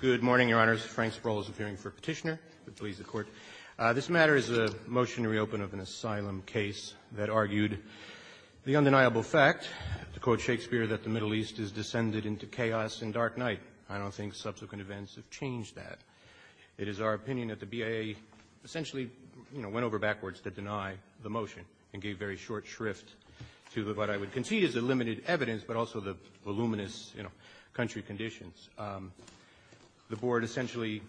Good morning, Your Honors. Frank Sproul is appearing for petitioner. Please, the Court. This matter is a motion to reopen of an asylum case that argued the undeniable fact, to quote Shakespeare, that the Middle East is descended into chaos and dark night. I don't think subsequent events have changed that. It is our opinion that the BIA essentially, you know, went over backwards to deny the motion and gave very short shrift to what I would concede is the country conditions. The Board essentially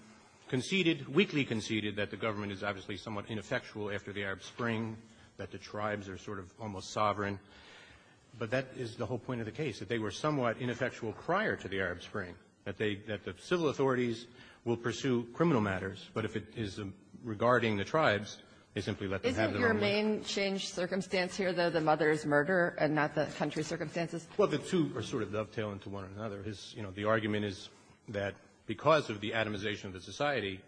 conceded, weakly conceded, that the government is obviously somewhat ineffectual after the Arab Spring, that the tribes are sort of almost sovereign. But that is the whole point of the case, that they were somewhat ineffectual prior to the Arab Spring, that they, that the civil authorities will pursue criminal matters, but if it is regarding the tribes, they simply let them have their own way. Isn't your main change circumstance here, though, the mother's murder and not the country's circumstances? Well, the two are sort of dovetailing to one another. You know, the argument is that because of the atomization of the society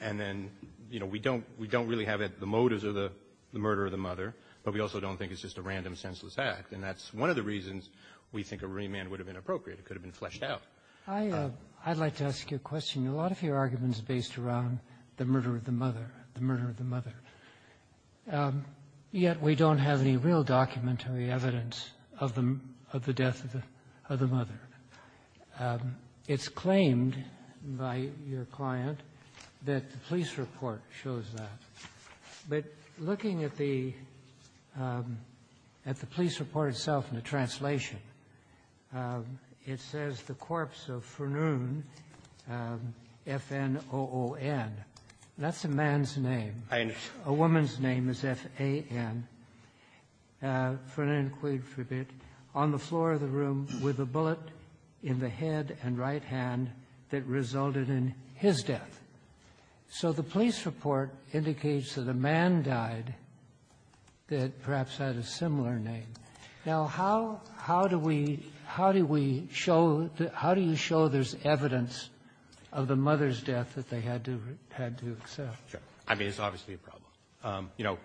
and then, you know, we don't really have the motives of the murder of the mother, but we also don't think it's just a random senseless act. And that's one of the reasons we think a remand would have been appropriate. It could have been fleshed out. I'd like to ask you a question. A lot of your arguments are based around the murder of the death of the mother. It's claimed by your client that the police report shows that. But looking at the, at the police report itself in the translation, it says the corpse of Furnoon, F-N-O-O-N, that's a man's name. I understand. A woman's name is F-A-N, Furnoon Quigford, on the floor of the room with a bullet in the head and right hand that resulted in his death. So the police report indicates that a man died that perhaps had a similar name. Now, how, how do we, how do we show, how do you show there's evidence of the mother's death that they had to, had to accept? Sure. I mean, it's obviously a problem. You know,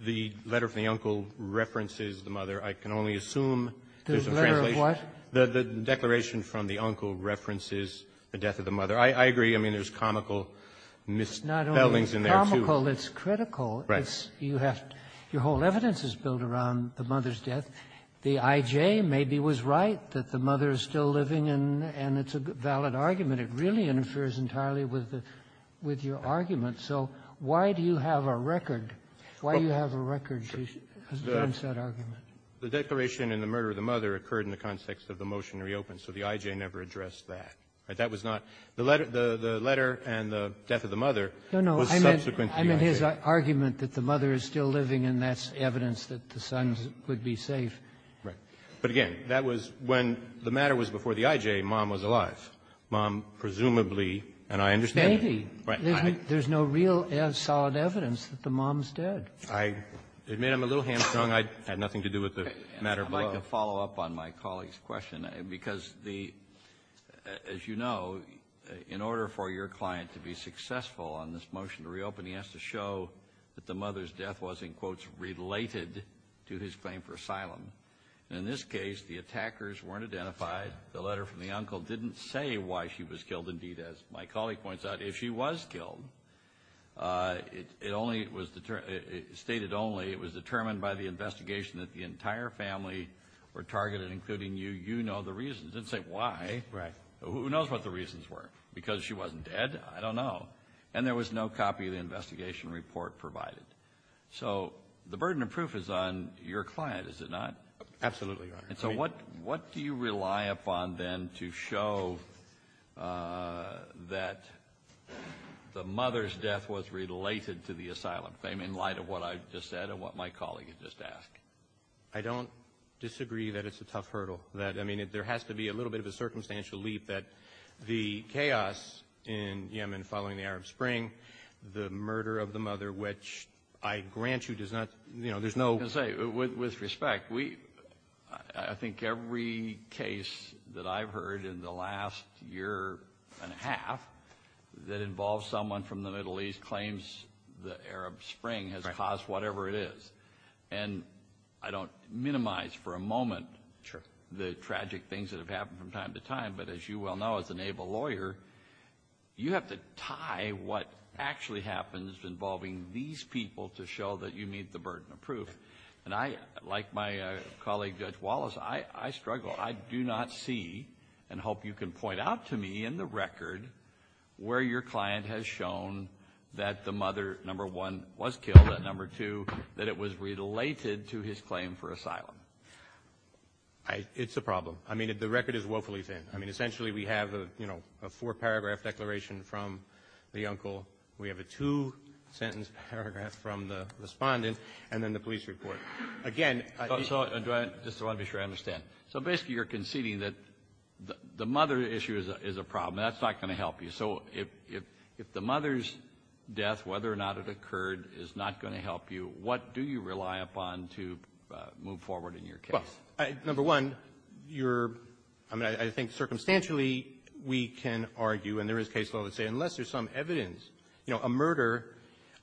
the letter from the uncle references the mother. I can only assume there's a translation. The letter of what? The, the declaration from the uncle references the death of the mother. I, I agree. I mean, there's comical misspellings in there, too. Not only comical, it's critical. Right. It's, you have, your whole evidence is built around the mother's death. The I.J. maybe was right that the mother is still living, and it's a valid argument. It really interferes entirely with the, with your argument. So why do you have a record? Why do you have a record against that argument? The declaration and the murder of the mother occurred in the context of the motion to reopen, so the I.J. never addressed that. That was not, the letter, the, the letter and the death of the mother was subsequent to the I.J. No, no, I meant, I meant his argument that the mother is still living, and that's evidence that the son would be safe. Right. But again, that was when the matter was before the I.J., mom was alive. Mom presumably, and I understand that. Maybe. Right. There's no real, solid evidence that the mom's dead. I admit I'm a little hamstrung. I had nothing to do with the matter. I'd like to follow up on my colleague's question, because the, as you know, in order for your client to be successful on this motion to reopen, he has to show that the In this case, the attackers weren't identified. The letter from the uncle didn't say why she was killed. Indeed, as my colleague points out, if she was killed, it only was stated only it was determined by the investigation that the entire family were targeted, including you. You know the reasons. Didn't say why. Right. Who knows what the reasons were? Because she wasn't dead? I don't know. And there was no copy of the investigation report provided. So the burden of proof is on your client, is it not? Absolutely, Your Honor. And so what do you rely upon then to show that the mother's death was related to the asylum claim in light of what I just said and what my colleague had just asked? I don't disagree that it's a tough hurdle. That, I mean, there has to be a little bit of a circumstantial leap that the chaos in I grant you does not, you know, there's no... I was going to say, with respect, I think every case that I've heard in the last year and a half that involves someone from the Middle East claims the Arab Spring has caused whatever it is. And I don't minimize for a moment the tragic things that have happened from time to time. But as you well know, as a naval lawyer, you have to tie what actually happens involving these people to show that you meet the burden of proof. And I, like my colleague Judge Wallace, I struggle. I do not see and hope you can point out to me in the record where your client has shown that the mother, number one, was killed and number two, that it was related to his claim for asylum. It's a problem. I mean, the record is woefully thin. I mean, essentially, we have, you know, a four-paragraph declaration from the uncle. We have a two-sentence paragraph from the respondent. And then the police report. Again... I just want to be sure I understand. So basically, you're conceding that the mother issue is a problem. That's not going to help you. So if the mother's death, whether or not it occurred, is not going to help you, what do you rely upon to move forward in your case? Number one, I think circumstantially, we can argue, and there is case law that would say a murder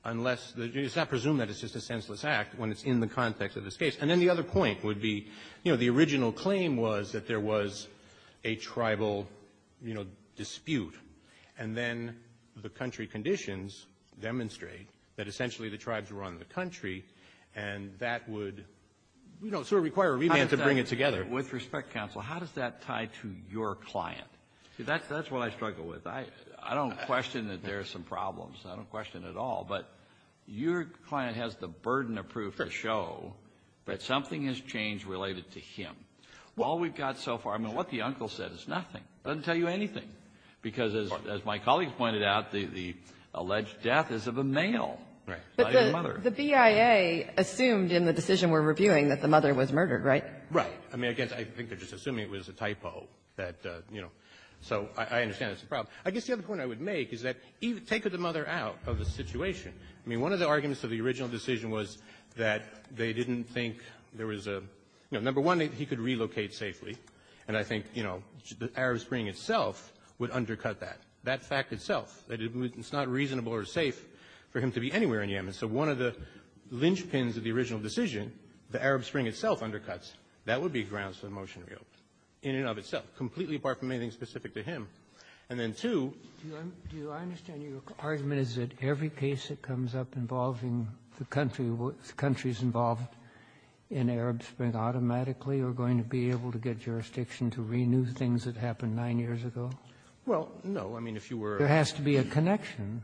unless, it's not presumed that it's just a senseless act when it's in the context of this case. And then the other point would be, you know, the original claim was that there was a tribal, you know, dispute. And then the country conditions demonstrate that essentially the tribes were on the country and that would, you know, sort of require a remand to bring it together. With respect, counsel, how does that tie to your client? That's what I struggle with. I don't question that there are some problems. I don't question it at all. But your client has the burden of proof to show that something has changed related to him. All we've got so far, I mean, what the uncle said is nothing. It doesn't tell you anything. Because as my colleagues pointed out, the alleged death is of a male, not of the mother. But the BIA assumed in the decision we're reviewing that the mother was murdered, right? Right. I mean, again, I think they're just assuming it was a typo that, you know. So I understand it's a problem. I guess the other point I would make is that take the mother out of the situation. I mean, one of the arguments of the original decision was that they didn't think there was a, you know, number one, he could relocate safely. And I think, you know, the Arab Spring itself would undercut that. That fact itself. It's not reasonable or safe for him to be anywhere in Yemen. So one of the linchpins of the original decision, the Arab Spring itself undercuts. That would be grounds for the motion re-opt, in and of itself, completely apart from anything specific to him. And then, two — Do I understand your argument is that every case that comes up involving the country with countries involved in Arab Spring automatically are going to be able to get jurisdiction to renew things that happened nine years ago? Well, no. I mean, if you were — There has to be a connection.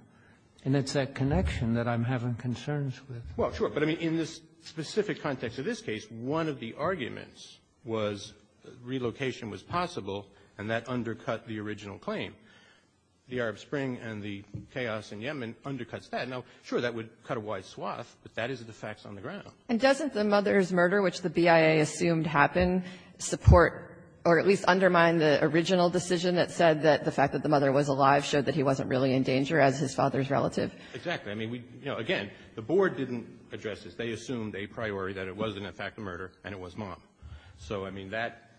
And it's that connection that I'm having concerns with. Well, sure. But, I mean, in this specific context of this case, one of the arguments was relocation was possible, and that undercut the original claim. The Arab Spring and the chaos in Yemen undercuts that. Now, sure, that would cut a wide swath, but that is the facts on the ground. And doesn't the mother's murder, which the BIA assumed happened, support or at least undermine the original decision that said that the fact that the mother was alive showed that he wasn't really in danger as his father's relative? Exactly. I mean, we — you know, again, the board didn't address this. They assumed a priori that it was, in effect, a murder, and it was mom. So, I mean, that,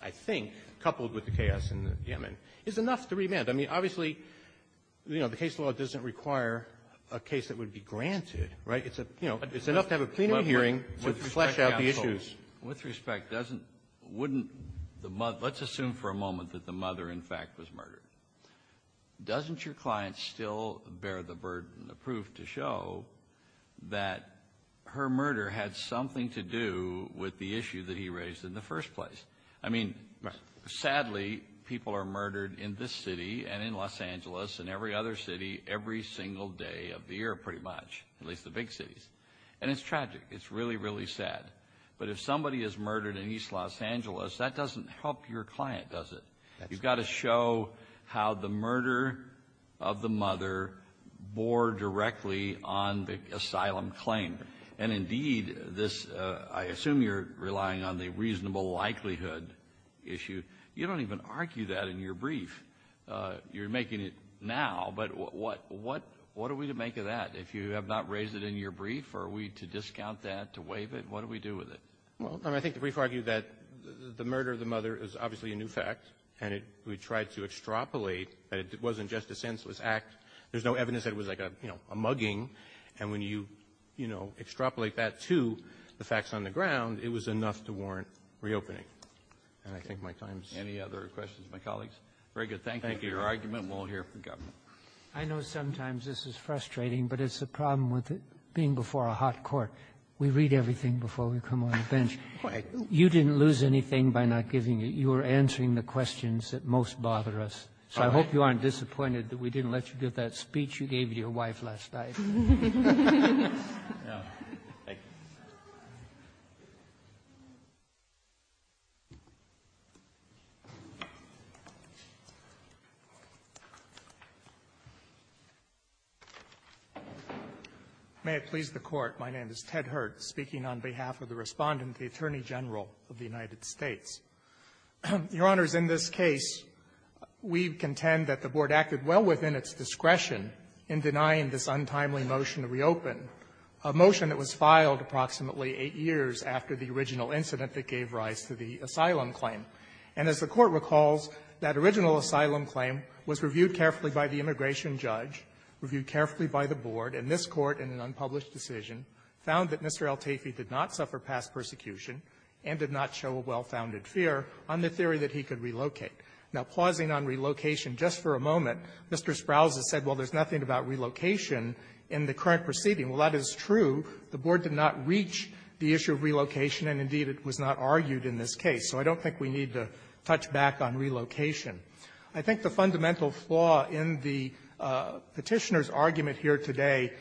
I think, coupled with the chaos in Yemen, is enough to remand. I mean, obviously, you know, the case law doesn't require a case that would be granted. Right? It's a — you know, it's enough to have a plenary hearing to flesh out the issues. With respect, doesn't — wouldn't the — let's assume for a moment that the mother, in fact, was murdered. Doesn't your client still bear the burden, the proof to show that her murder had something to do with the issue that he raised in the first place? I mean, sadly, people are murdered in this city and in Los Angeles and every other city every single day of the year, pretty much, at least the big cities. And it's tragic. It's really, really sad. But if somebody is murdered in East Los Angeles, that doesn't help your client, does it? That's right. You've got to show how the murder of the mother bore directly on the asylum claim. And indeed, this — I assume you're relying on the reasonable likelihood issue. You don't even argue that in your brief. You're making it now. But what are we to make of that? If you have not raised it in your brief, are we to discount that, to waive it? What do we do with it? Well, I think the brief argued that the murder of the mother is obviously a new fact. And we tried to extrapolate that it wasn't just a senseless act. There's no evidence that it was like a, you know, a mugging. And when you, you know, extrapolate that to the facts on the ground, it was enough to warrant reopening. And I think my time's — Any other questions of my colleagues? Very good. Thank you for your argument. We'll hear from the governor. I know sometimes this is frustrating, but it's a problem with being before a hot court. We read everything before we come on the bench. You didn't lose anything by not giving it. You were answering the questions that most bother us. So I hope you aren't disappointed that we didn't let you give that speech you gave your wife last night. May it please the Court. My name is Ted Hurd, speaking on behalf of the Respondent, the Attorney General of the United States. Your Honors, in this case, we contend that the Board acted well within its discretion in denying this untimely motion to reopen, a motion that was filed approximately eight years after the original incident that gave rise to the asylum claim. And as the Court recalls, that original asylum claim was reviewed carefully by the immigration judge, reviewed carefully by the Board, and this Court, in an unpublished decision, found that Mr. Eltafey did not suffer past persecution and did not show a well-founded fear on the theory that he could relocate. Now, pausing on relocation, just for a moment, Mr. Sprowls has said, well, there's nothing about relocation in the current proceeding. Well, that is true. The Board did not reach the issue of relocation, and indeed, it was not argued in this case. So I don't think we need to touch back on relocation. I think the fundamental flaw in the Petitioner's argument here today,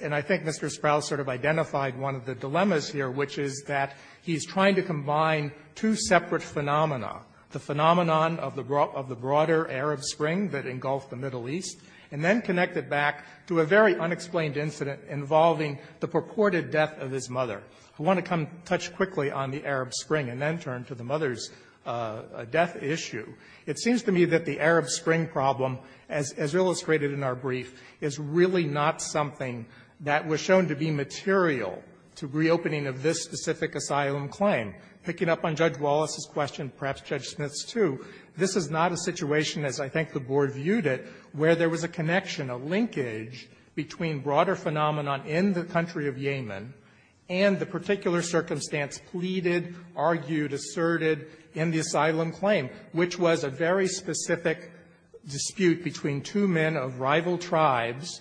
and I think Mr. Sprowls sort of identified one of the dilemmas here, which is that he's trying to combine two separate phenomena, the phenomenon of the broader Arab Spring that engulfed the Middle East, and then connect it back to a very unexplained incident involving the purported death of his mother. I want to come to touch quickly on the Arab Spring and then turn to the mother's death issue. It seems to me that the Arab Spring problem, as illustrated in our brief, is really not something that was shown to be material to reopening of this specific asylum claim. Picking up on Judge Wallace's question, perhaps Judge Smith's, too, this is not a situation, as I think the Board viewed it, where there was a connection, a linkage between broader phenomenon in the country of Yemen and the particular circumstance pleaded, argued, asserted in the asylum claim, which was a very specific dispute between two men of rival tribes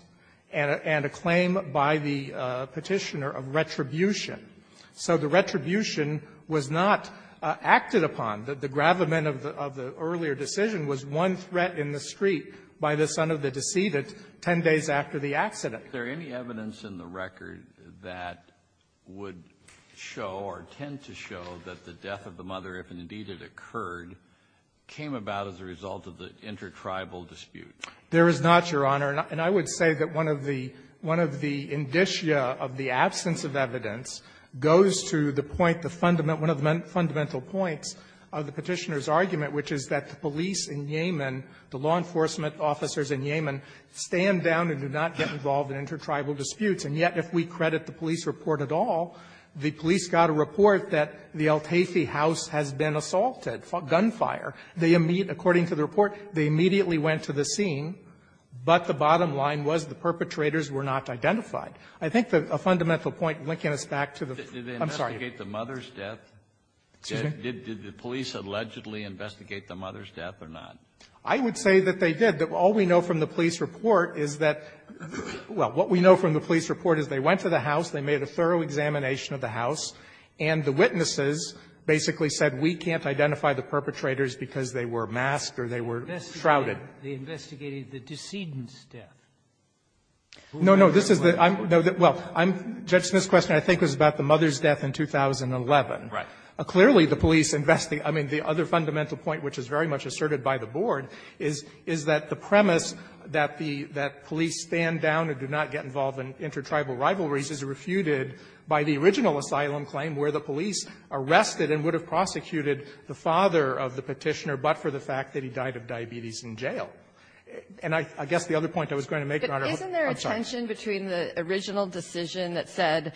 and a claim by the Petitioner of retribution. So the retribution was not acted upon. The gravamen of the earlier decision was one threat in the street by the son of the deceived, 10 days after the accident. Kennedy, is there any evidence in the record that would show or tend to show that the death of the mother, if indeed it occurred, came about as a result of the intertribal dispute? There is not, Your Honor. And I would say that one of the indicia of the absence of evidence goes to the point, the fundamental, one of the fundamental points of the Petitioner's argument, which is that the police in Yemen, the law enforcement officers in Yemen, stand down and do not get involved in intertribal disputes. And yet, if we credit the police report at all, the police got a report that the Al-Taifi house has been assaulted, gunfire. They immediately, according to the report, they immediately went to the scene, but the bottom line was the perpetrators were not identified. I think a fundamental point linking us back to the ---- Kennedy, did they investigate the mother's death? Did the police allegedly investigate the mother's death or not? I would say that they did. All we know from the police report is that they went to the house, they made a thorough examination of the house, and the witnesses basically said, we can't identify the perpetrators because they were masked or they were shrouded. They investigated the decedent's death. No, no, this is the ---- Well, I'm judging this question, I think, was about the mother's death in 2011. Right. Clearly, the police investigate the other fundamental point, which is very much asserted by the Board, is that the premise that the police stand down and do not get involved in intertribal rivalries is refuted by the original asylum claim where the police arrested and would have prosecuted the father of the Petitioner, but for the fact that he died of diabetes in jail. And I guess the other point I was going to make, Your Honor ---- But isn't there a tension between the original decision that said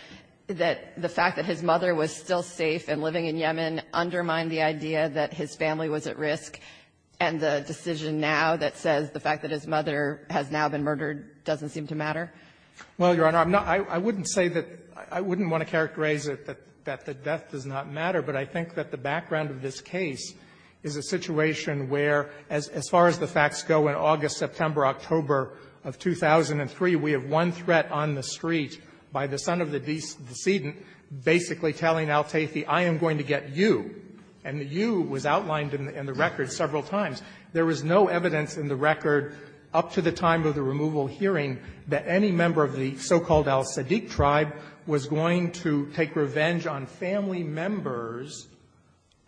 that the fact that his mother was still safe and living in Yemen undermined the idea that his family was at risk, and the decision now that says the fact that his mother has now been murdered doesn't seem to matter? Well, Your Honor, I'm not ---- I wouldn't say that ---- I wouldn't want to characterize it that the death does not matter, but I think that the background of this case is a situation where, as far as the facts go, in August, September, October of 2003, we have one threat on the street by the son of the decedent basically telling al-Taithi, I am going to get you, and the you was outlined in the record several times. There was no evidence in the record up to the time of the removal hearing that any member of the so-called al-Siddiq tribe was going to take revenge on family members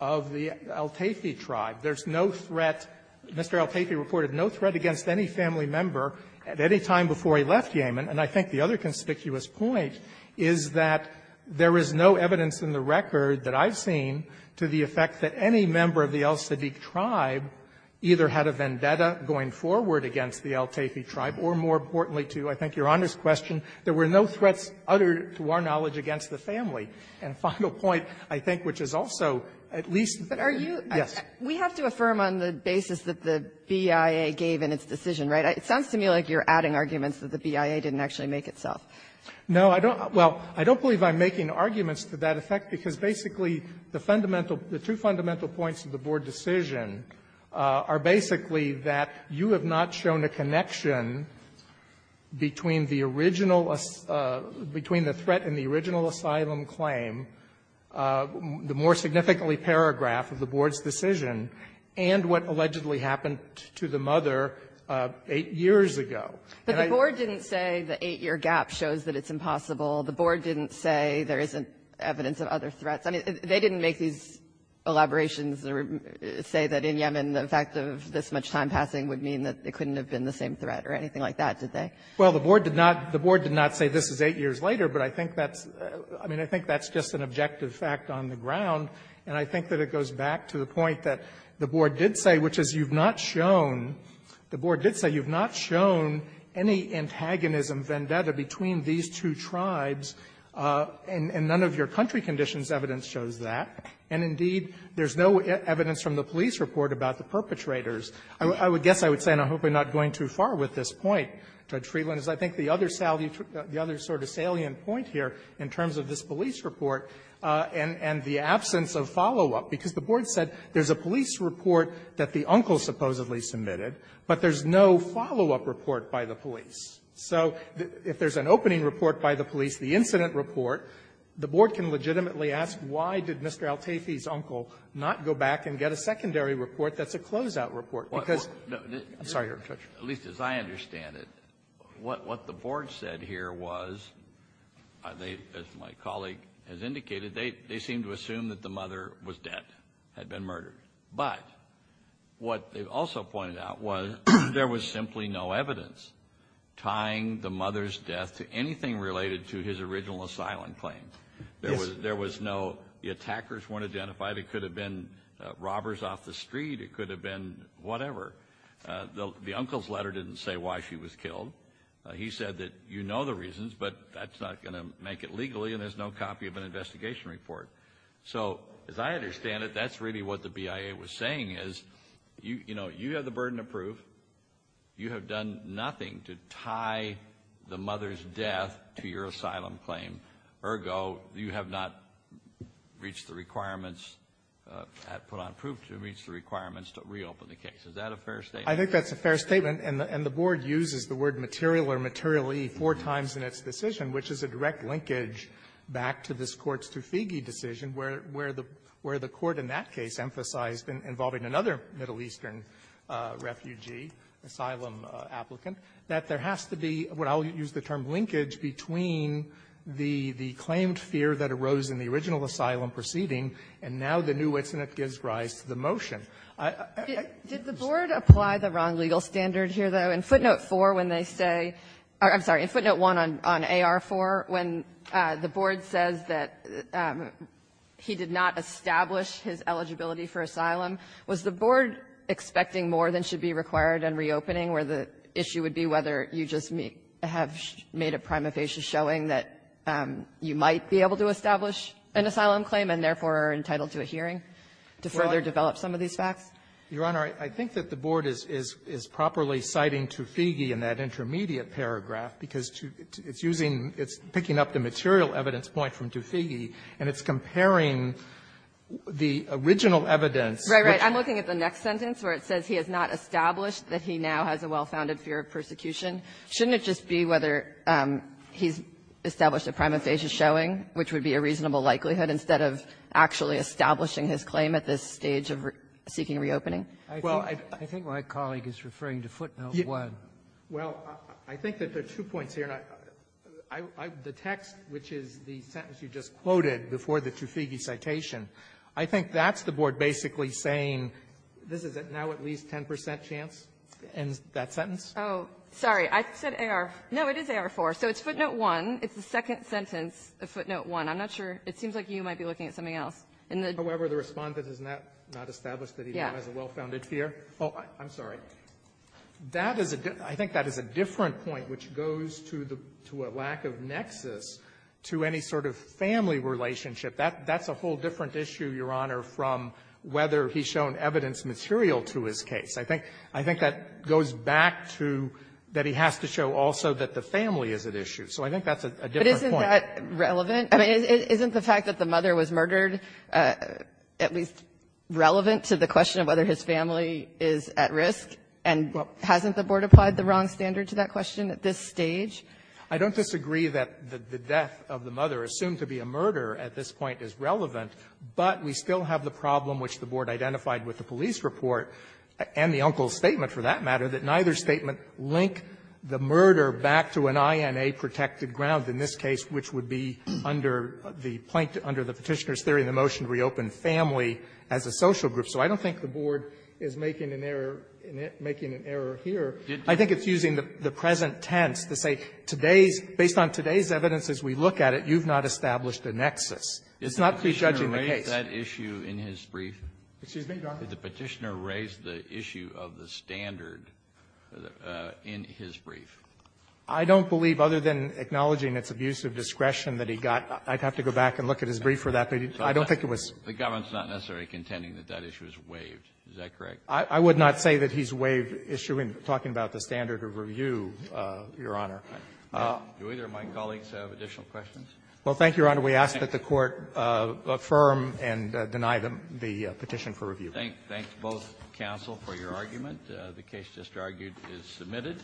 of the al-Taithi tribe. There's no threat ---- Mr. al-Taithi reported no threat against any family member at any time before he left Yemen. And I think the other conspicuous point is that there is no evidence in the record that I've seen to the effect that any member of the al-Siddiq tribe either had a vendetta going forward against the al-Taithi tribe, or more importantly to, I think, Your Honor's question, there were no threats uttered, to our knowledge, against the family. And a final point, I think, which is also at least ---- Kagan. Yes. Kagan. We have to affirm on the basis that the BIA gave in its decision, right? It sounds to me like you're adding arguments that the BIA didn't actually make itself. No, I don't. Well, I don't believe I'm making arguments to that effect, because basically the fundamental ---- the two fundamental points of the Board decision are basically that you have not shown a connection between the original ---- between the threat and the original asylum claim, the more significantly paragraph of the Board's decision, and what allegedly happened to the mother 8 years ago. And I ---- But the Board didn't say the 8-year gap shows that it's impossible. The Board didn't say there isn't evidence of other threats. I mean, they didn't make these elaborations that say that in Yemen, the fact of this much time passing would mean that it couldn't have been the same threat or anything like that, did they? Well, the Board did not ---- the Board did not say this is 8 years later, but I think that's ---- I mean, I think that's just an objective fact on the ground. And I think that it goes back to the point that the Board did say, which is you've not shown ---- the Board did say you've not shown any antagonism, vendetta, between these two tribes, and none of your country conditions' evidence shows that. And indeed, there's no evidence from the police report about the perpetrators. I would guess I would say, and I hope I'm not going too far with this point, Judge Freeland, is I think the other salient ---- the other sort of salient point here in terms of this police report and the absence of follow-up, because the Board said there's a police report that the uncle supposedly submitted, but there's no follow-up report by the police. So if there's an opening report by the police, the incident report, the Board can legitimately ask, why did Mr. Altafi's uncle not go back and get a secondary report that's a closeout report? Because ---- Kennedy, I'm sorry, Your Honor, Judge. Kennedy, at least as I understand it, what the Board said here was, as my colleague has indicated, they seem to assume that the mother was dead, had been murdered. But what they also pointed out was there was simply no evidence tying the mother's death to anything related to his original asylum claim. There was no ---- the attackers weren't identified. It could have been robbers off the street. It could have been whatever. The uncle's letter didn't say why she was killed. He said that you know the reasons, but that's not going to make it legally, and there's no copy of an investigation report. So as I understand it, that's really what the BIA was saying is, you know, you have the burden of proof. You have done nothing to tie the mother's death to your asylum claim. Ergo, you have not reached the requirements, put on proof to reach the requirements to reopen the case. Is that a fair statement? I think that's a fair statement. And the Board uses the word material or materially four times in its decision, which is a direct linkage back to this Court's Truffigee decision, where the Court in that case emphasized involving another Middle Eastern refugee, asylum applicant, that there has to be what I'll use the term linkage between the claimed fear that arose in the original asylum proceeding, and now the new incident gives rise to the motion. I don't know if that's a fair statement. Did the Board apply the wrong legal standard here, though? In footnote 4, when they say or, I'm sorry, in footnote 1 on AR-4, when the Board says that he did not establish his eligibility for asylum, was the Board expecting more than should be required in reopening, where the issue would be whether you just have made a prima facie showing that you might be able to establish an asylum claim and, therefore, are entitled to a hearing to further develop some of these facts? Katyala, I think that the Board is properly citing Truffigee in that intermediate paragraph, because it's using, it's picking up the material evidence point from Truffigee, and it's comparing the original evidence. Right, right. I'm looking at the next sentence, where it says he has not established that he now has a well-founded fear of persecution. Shouldn't it just be whether he's established a prima facie showing, which would be a reasonable likelihood, instead of actually establishing his claim at this stage of seeking reopening? Well, I think my colleague is referring to footnote 1. Well, I think that there are two points here. The text, which is the sentence you just quoted before the Truffigee citation, I think that's the Board basically saying, this is now at least a 10 percent chance in that sentence. Oh, sorry. I said AR. No, it is AR-4. So it's footnote 1. It's the second sentence of footnote 1. I'm not sure. It seems like you might be looking at something else. However, the Respondent has not established that he now has a well-founded fear. Oh, I'm sorry. That is a — I think that is a different point, which goes to a lack of nexus to any sort of family relationship. That's a whole different issue, Your Honor, from whether he's shown evidence material to his case. I think that goes back to that he has to show also that the family is at issue. So I think that's a different point. But isn't that relevant? I mean, isn't the fact that the mother was murdered at least relevant to the question of whether his family is at risk? And hasn't the Board applied the wrong standard to that question at this stage? I don't disagree that the death of the mother assumed to be a murder at this point is relevant, but we still have the problem which the Board identified with the police report and the uncle's statement, for that matter, that neither statement link the under the Petitioner's theory in the motion to reopen family as a social group. So I don't think the Board is making an error in it, making an error here. I think it's using the present tense to say, today's — based on today's evidence as we look at it, you've not established a nexus. It's not prejudging the case. Kennedy, did the Petitioner raise that issue in his brief? Excuse me, Your Honor. Did the Petitioner raise the issue of the standard in his brief? I don't believe, other than acknowledging its abuse of discretion that he got, I'd have to go back and look at his brief for that. I don't think it was — The government's not necessarily contending that that issue is waived. Is that correct? I would not say that he's waived issue in talking about the standard of review, Your Honor. Do either of my colleagues have additional questions? Well, thank you, Your Honor. We ask that the Court affirm and deny the Petition for review. Thank you. Thank both counsel for your argument. The case just argued is submitted.